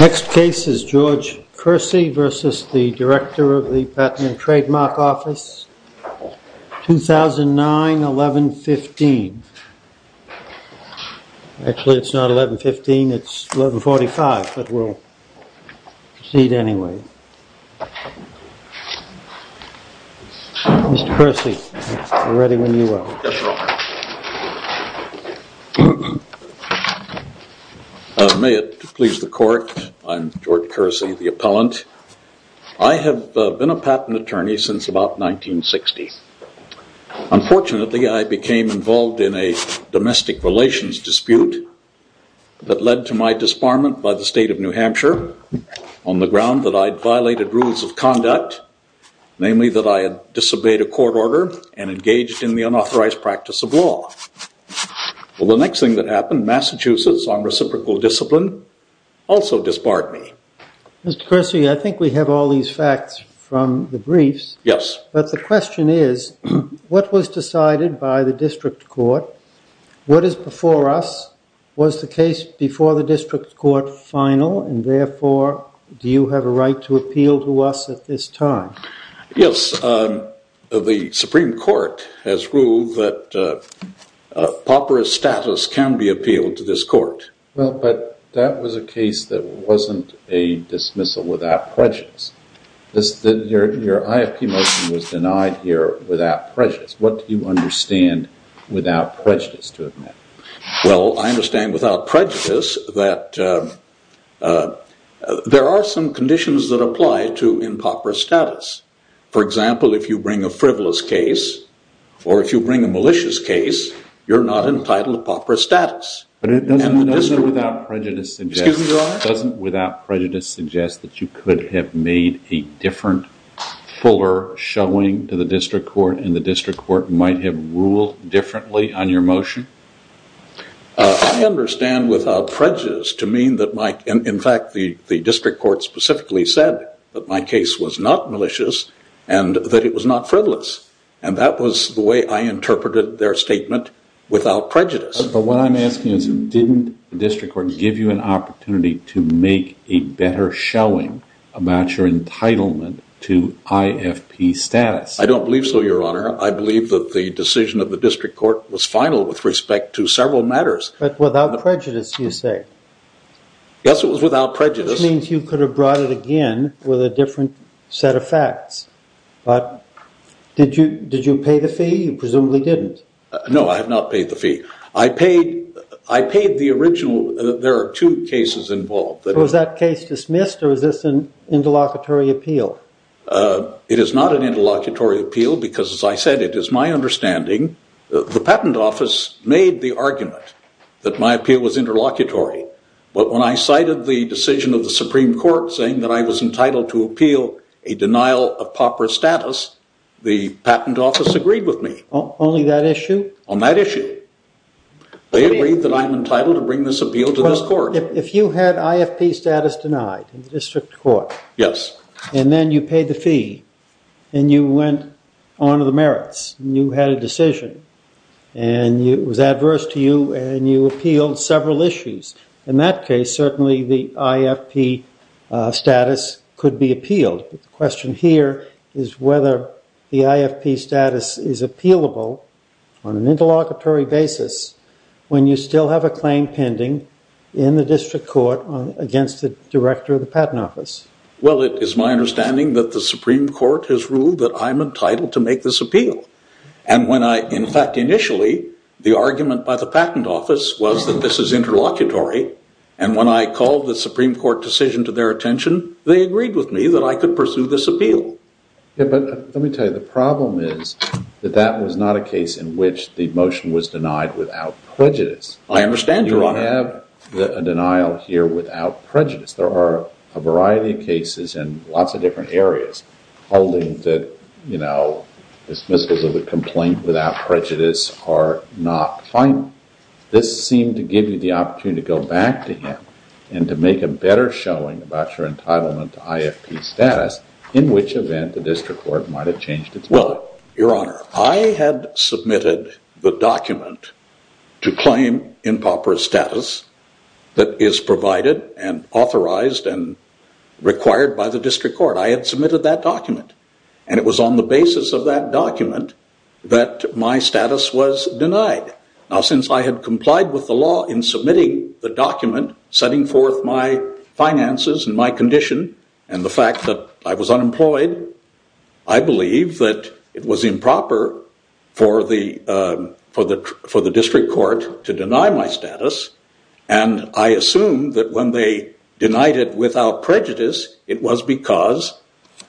Next case is George Kersey v. Director of the Patent and Trademark Office, 2009-11-15 Actually it's not 11-15, it's 11-45, but we'll proceed anyway. May it please the court, I'm George Kersey, the appellant. I have been a patent attorney since about 1960. Unfortunately I became involved in a domestic relations dispute that led to my disbarment by the state of New Hampshire on the ground that I'd violated rules of conduct, namely that I had disobeyed a court order and engaged in the unauthorized practice of law. Well the next thing that happened, Massachusetts on reciprocal discipline also disbarred me. Mr. Kersey, I think we have all these facts from the briefs. Yes. But the question is, what was decided by the district court? What is before us? Was the case before the district court final and therefore do you have a right to appeal to us at this time? Yes, the Supreme Court has ruled that pauperous status can be appealed to this court. Well, but that was a case that wasn't a dismissal without prejudice. Your IFP motion was denied here without prejudice. What do you understand without prejudice to admit? Well, I understand without prejudice that there are some conditions that apply to impauperous status. For example, if you bring a frivolous case, or if you bring a malicious case, you're not entitled to pauperous status. But doesn't without prejudice suggest that you could have made a different, fuller showing to the district court, and the district court might have ruled differently on your motion? I understand without prejudice to mean that, in fact, the district court specifically said that my case was not malicious and that it was not frivolous. And that was the way I interpreted their statement without prejudice. But what I'm asking is, didn't the district court give you an opportunity to make a better showing about your entitlement to IFP status? I don't believe so, Your Honor. I believe that the decision of the district court was final with respect to several matters. But without prejudice, you say? Yes, it was without prejudice. Which means you could have brought it again with a different set of facts. But did you pay the fee? You presumably didn't. No, I have not paid the fee. I paid the original. There are two cases involved. Was that case dismissed, or is this an interlocutory appeal? It is not an interlocutory appeal because, as I said, it is my understanding, the patent office made the argument that my appeal was interlocutory. But when I cited the decision of the Supreme Court saying that I was entitled to appeal a denial of pauperous status, the patent office agreed with me. Only that issue? On that issue. They agreed that I'm entitled to bring this appeal to this court. If you had IFP status denied in the district court, and then you paid the fee, and you went on to the merits, and you had a decision, and it was adverse to you, and you appealed several issues, in that case, certainly the IFP status could be appealed. The question here is whether the IFP status is appealable on an interlocutory basis when you still have a claim pending in the district court against the director of the patent office. Well, it is my understanding that the Supreme Court has ruled that I'm entitled to make this appeal. And when I, in fact, initially, the argument by the patent office was that this is interlocutory. And when I called the Supreme Court decision to their attention, they agreed with me that I could pursue this appeal. Yeah, but let me tell you, the problem is that that was not a case in which the motion was denied without prejudice. I understand, Your Honor. You have a denial here without prejudice. There are a variety of cases in lots of different areas holding that dismissals of a complaint without prejudice are not final. This seemed to give you the opportunity to go back to him and to make a better showing about your entitlement to IFP status, in which event the district court might have changed its mind. Well, Your Honor, I had submitted the document to claim improper status that is provided and authorized and required by the district court. I had submitted that document. And it was on the basis of that document that my status was denied. Now, since I had complied with the law in submitting the document, setting forth my finances and my condition and the fact that I was unemployed, I believe that it was improper for the district court to deny my status. And I assume that when they denied it without prejudice, it was because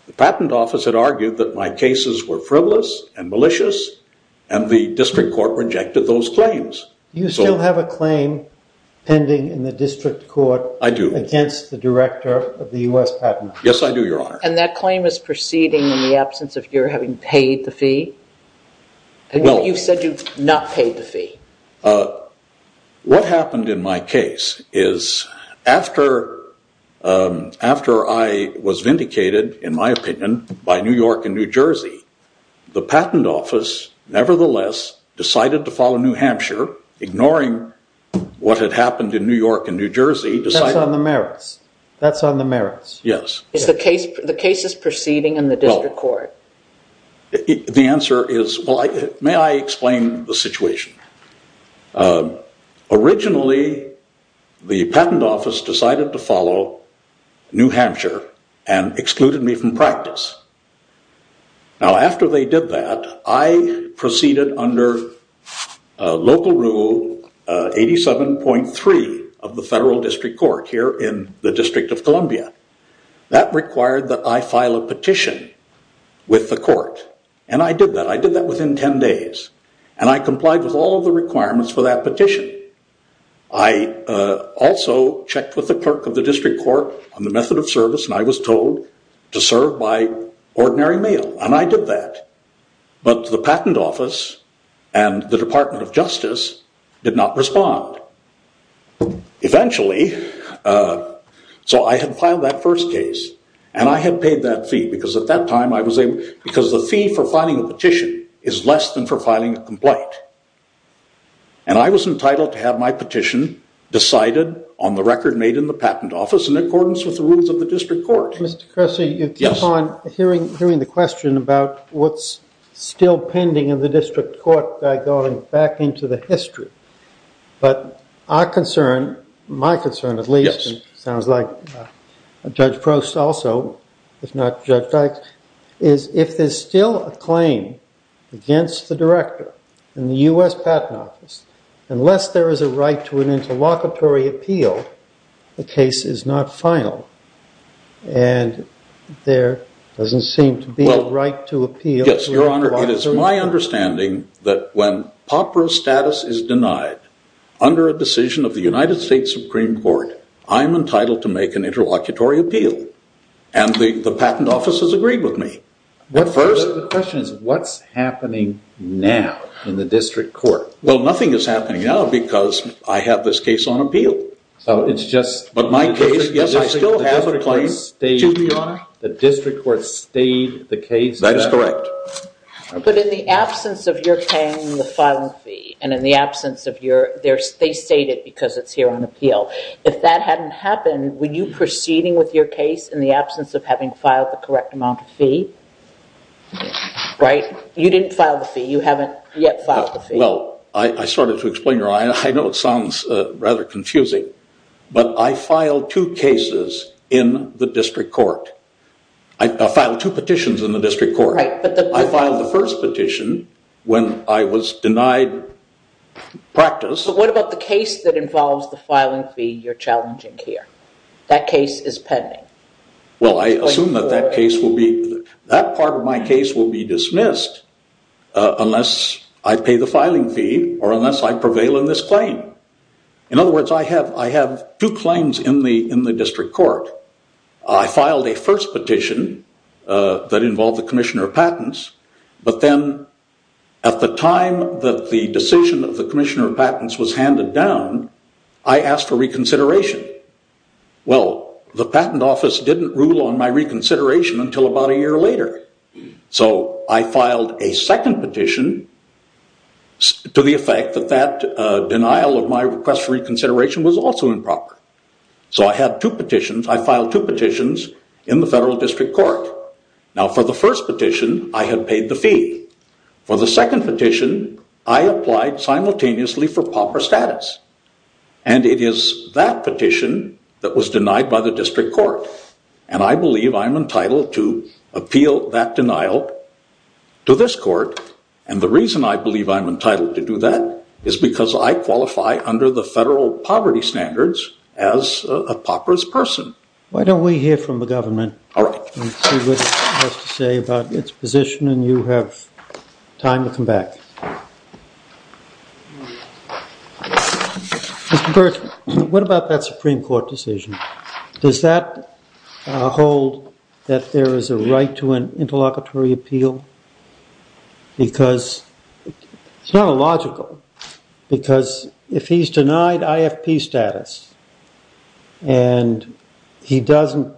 the patent office had argued that my cases were frivolous and malicious, and the district court rejected those claims. You still have a claim pending in the district court against the director of the U.S. Patent Office. Yes, I do, Your Honor. And that claim is proceeding in the absence of your having paid the fee? What happened in my case is after I was vindicated, in my opinion, by New York and New Jersey, the patent office, nevertheless, decided to follow New Hampshire, ignoring what had happened in New York and New Jersey. That's on the merits. That's on the merits. Yes. The case is proceeding in the district court. The answer is, well, may I explain the situation? Originally, the patent office decided to follow New Hampshire and excluded me from practice. Now, after they did that, I proceeded under local rule 87.3 of the federal district court here in the District of Columbia. That required that I file a petition with the court, and I did that. I did that within 10 days, and I complied with all of the requirements for that petition. I also checked with the clerk of the district court on the method of service, and I was told to serve by ordinary mail, and I did that. But the patent office and the Department of Justice did not respond. Eventually, so I had filed that first case, and I had paid that fee, because at that time, I was able, because the fee for filing a petition is less than for filing a complaint. And I was entitled to have my petition decided on the record made in the patent office in accordance with the rules of the district court. Mr. Cressy, you keep on hearing the question about what's still pending in the district court by going back into the history. But our concern, my concern at least, and it sounds like Judge Prost also, if not Judge Dykes, is if there's still a claim against the director in the U.S. Patent Office, unless there is a right to an interlocutory appeal, the case is not final. And there doesn't seem to be a right to appeal. Yes, Your Honor, it is my understanding that when Popper's status is denied under a decision of the United States Supreme Court, I'm entitled to make an interlocutory appeal, and the patent office has agreed with me. The question is, what's happening now in the district court? Well, nothing is happening now, because I have this case on appeal. But my case, yes, I still have a claim. The district court stayed the case? That is correct. But in the absence of your paying the filing fee, and in the absence of your, they state it because it's here on appeal, if that hadn't happened, were you proceeding with your case in the absence of having filed the correct amount of fee? Right? You didn't file the fee. You haven't yet filed the fee. Well, I started to explain, Your Honor, I know it sounds rather confusing, but I filed two cases in the district court. I filed two petitions in the district court. Right. I filed the first petition when I was denied practice. But what about the case that involves the filing fee you're challenging here? That case is pending. Well, I assume that that part of my case will be dismissed unless I pay the filing fee or unless I prevail in this claim. In other words, I have two claims in the district court. I filed a first petition that involved the commissioner of patents. But then at the time that the decision of the commissioner of patents was handed down, I asked for reconsideration. Well, the patent office didn't rule on my reconsideration until about a year later. So I filed a second petition to the effect that that denial of my request for reconsideration was also improper. So I had two petitions. I filed two petitions in the federal district court. Now, for the first petition, I had paid the fee. For the second petition, I applied simultaneously for proper status. And it is that petition that was denied by the district court. And I believe I'm entitled to appeal that denial to this court. And the reason I believe I'm entitled to do that is because I qualify under the federal poverty standards as a proper person. Why don't we hear from the government and see what it has to say about its position. And you have time to come back. Mr. Birch, what about that Supreme Court decision? Does that hold that there is a right to an interlocutory appeal? Because it's not illogical. Because if he's denied IFP status and he doesn't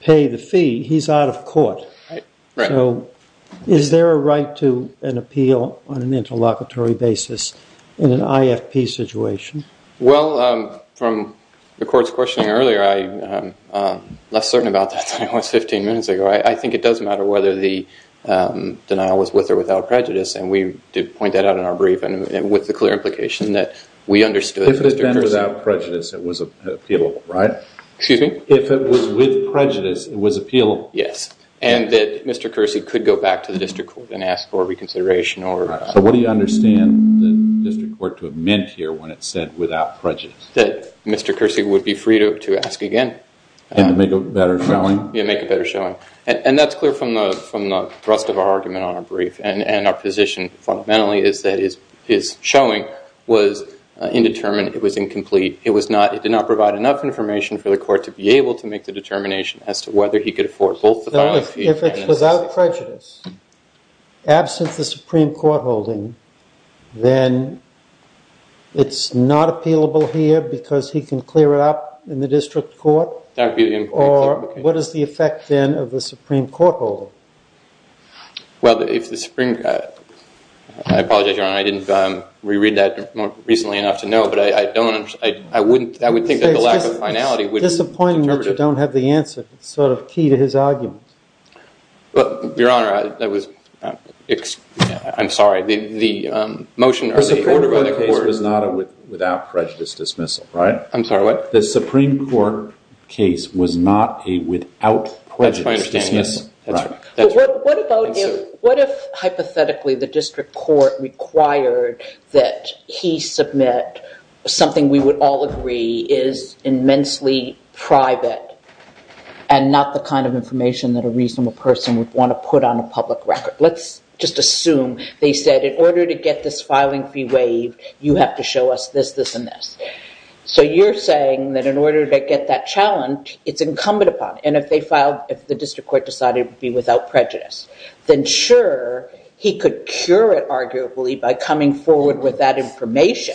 pay the fee, he's out of court. So is there a right to an appeal on an interlocutory basis in an IFP situation? Well, from the court's questioning earlier, I'm less certain about that than I was 15 minutes ago. I think it does matter whether the denial was with or without prejudice. And we did point that out in our brief with the clear implication that we understood. If it had been without prejudice, it was appealable, right? Excuse me? If it was with prejudice, it was appealable. Yes. And that Mr. Kersey could go back to the district court and ask for reconsideration. So what do you understand the district court to have meant here when it said without prejudice? That Mr. Kersey would be free to ask again. And to make a better showing? Yeah, make a better showing. And that's clear from the rest of our argument on our brief. And our position, fundamentally, is that his showing was indeterminate. It was incomplete. It did not provide enough information for the court to be able to make the determination as to whether he could afford both the filing fee. If it's without prejudice, absent the Supreme Court holding, then it's not appealable here because he can clear it up in the district court? Or what is the effect, then, of the Supreme Court holding? Well, if the Supreme—I apologize, Your Honor. I didn't reread that recently enough to know. But I don't—I wouldn't—I would think that the lack of finality would— Your Honor, I was—I'm sorry. The motion— The Supreme Court case was not a without prejudice dismissal, right? I'm sorry, what? The Supreme Court case was not a without prejudice dismissal. That's my understanding. That's right. What about—what if, hypothetically, the district court required that he submit something we would all agree is immensely private and not the kind of information that a reasonable person would want to put on a public record? Let's just assume they said, in order to get this filing fee waived, you have to show us this, this, and this. So you're saying that in order to get that challenged, it's incumbent upon— and if they filed—if the district court decided it would be without prejudice, then sure, he could cure it, arguably, by coming forward with that information.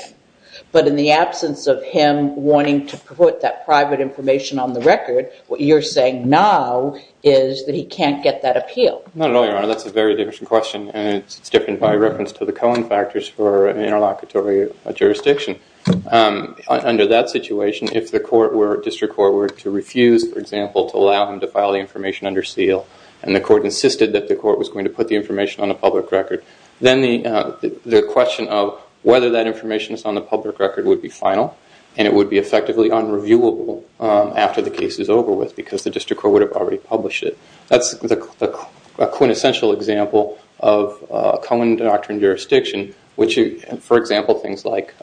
But in the absence of him wanting to put that private information on the record, what you're saying now is that he can't get that appeal. Not at all, Your Honor. That's a very different question, and it's different by reference to the Cohen factors for an interlocutory jurisdiction. Under that situation, if the court were—district court were to refuse, for example, to allow him to file the information under seal, and the court insisted that the court was going to put the information on a public record, then the question of whether that information is on the public record would be final, and it would be effectively unreviewable after the case is over with because the district court would have already published it. That's a quintessential example of a Cohen doctrine jurisdiction, which, for example, things like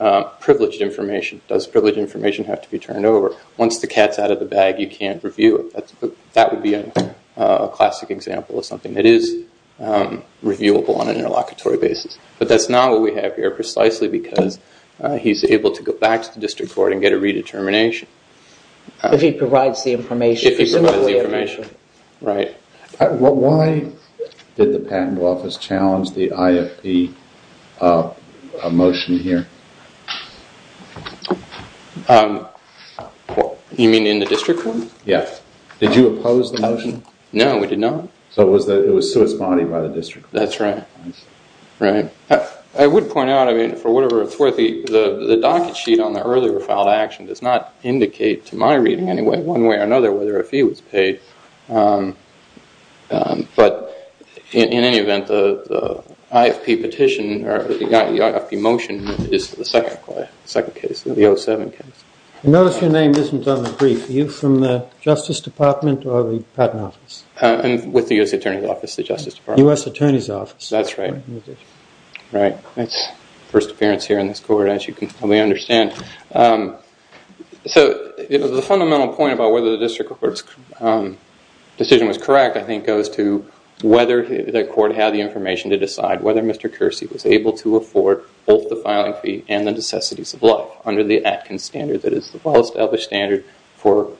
privileged information. Does privileged information have to be turned over? Once the cat's out of the bag, you can't review it. That would be a classic example of something that is reviewable on an interlocutory basis. But that's not what we have here precisely because he's able to go back to the district court and get a redetermination. If he provides the information. If he provides the information, right. Why did the patent office challenge the IFP motion here? You mean in the district court? Yes. Did you oppose the motion? No, we did not. So it was to its body by the district court? That's right. Right. I would point out, I mean, for whatever it's worth, the docket sheet on the earlier filed action does not indicate to my reading anyway, one way or another, whether a fee was paid. But in any event, the IFP petition or the IFP motion is the second case, the 07 case. I notice your name isn't on the brief. Are you from the Justice Department or the patent office? I'm with the U.S. Attorney's Office, the Justice Department. U.S. Attorney's Office. That's right. Right. That's the first appearance here in this court, as you can probably understand. So the fundamental point about whether the district court's decision was correct, I think, goes to whether the court had the information to decide whether Mr. Kersey was able to afford both the filing fee and the necessities of life under the Atkins standard that is the well-established standard for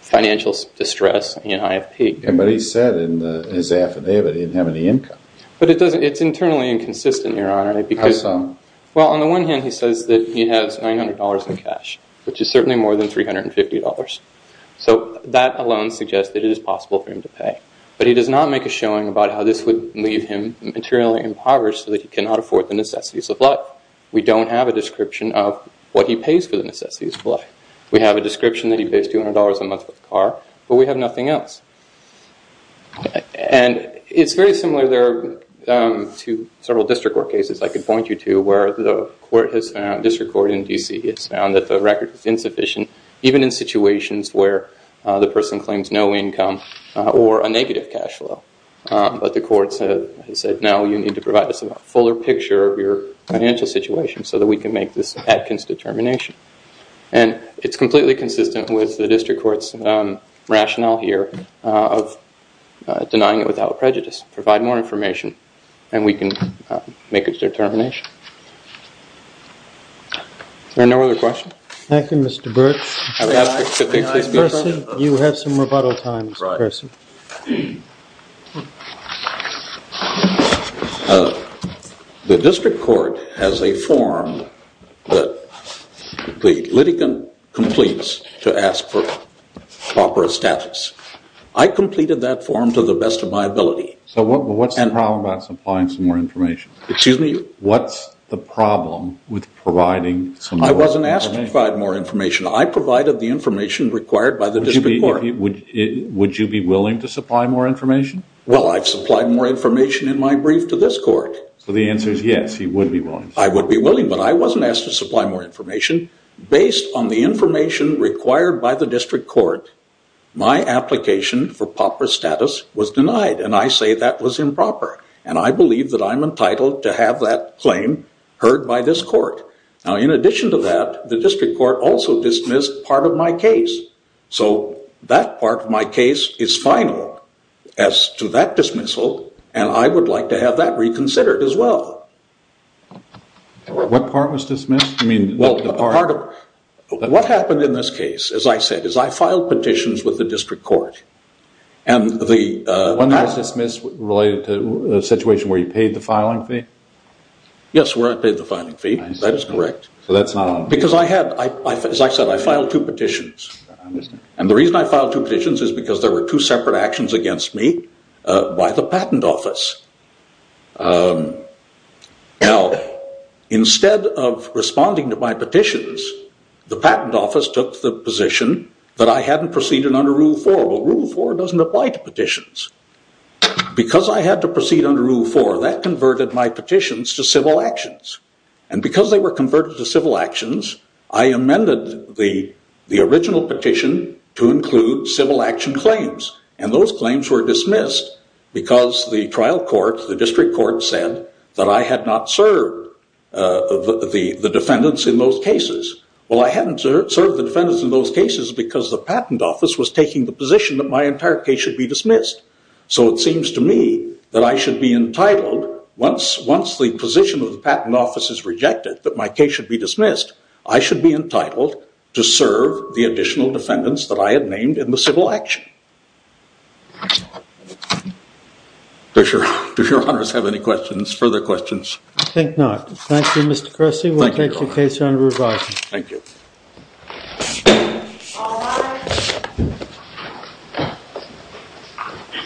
financial distress in IFP. But he said in his affidavit he didn't have any income. But it's internally inconsistent, Your Honor. How so? Well, on the one hand, he says that he has $900 in cash, which is certainly more than $350. So that alone suggests that it is possible for him to pay. But he does not make a showing about how this would leave him materially impoverished so that he cannot afford the necessities of life. We don't have a description of what he pays for the necessities of life. We have a description that he pays $200 a month for the car, but we have nothing else. And it's very similar to several district court cases I could point you to where the district court in D.C. has found that the record is insufficient even in situations where the person claims no income or a negative cash flow. But the courts have said, no, you need to provide us a fuller picture of your financial situation so that we can make this Atkins determination. And it's completely consistent with the district court's rationale here of denying it without prejudice. Provide more information and we can make a determination. Are there no other questions? Thank you, Mr. Burks. You have some rebuttal time, Mr. Burks. The district court has a form that the litigant completes to ask for proper status. I completed that form to the best of my ability. So what's the problem about supplying some more information? Excuse me? What's the problem with providing some more information? I wasn't asked to provide more information. I provided the information required by the district court. Would you be willing to supply more information? Well, I've supplied more information in my brief to this court. So the answer is yes, you would be willing. I would be willing, but I wasn't asked to supply more information. Based on the information required by the district court, my application for proper status was denied. And I say that was improper. And I believe that I'm entitled to have that claim heard by this court. Now, in addition to that, the district court also dismissed part of my case. So that part of my case is final as to that dismissal, and I would like to have that reconsidered as well. What part was dismissed? Well, what happened in this case, as I said, is I filed petitions with the district court. And the- Wasn't that dismissed related to the situation where you paid the filing fee? Yes, where I paid the filing fee. That is correct. So that's not on the- Because I had, as I said, I filed two petitions. I understand. And the reason I filed two petitions is because there were two separate actions against me by the patent office. Now, instead of responding to my petitions, the patent office took the position that I hadn't proceeded under Rule 4. Well, Rule 4 doesn't apply to petitions. Because I had to proceed under Rule 4, that converted my petitions to civil actions. And because they were converted to civil actions, I amended the original petition to include civil action claims. And those claims were dismissed because the trial court, the district court, said that I had not served the defendants in those cases. Well, I hadn't served the defendants in those cases because the patent office was taking the position that my entire case should be dismissed. So it seems to me that I should be entitled, once the position of the patent office is rejected, that my case should be dismissed, I should be entitled to serve the additional defendants that I had named in the civil action. Do your honors have any questions, further questions? I think not. Thank you, Mr. Cressy. We'll take your case under review. Thank you.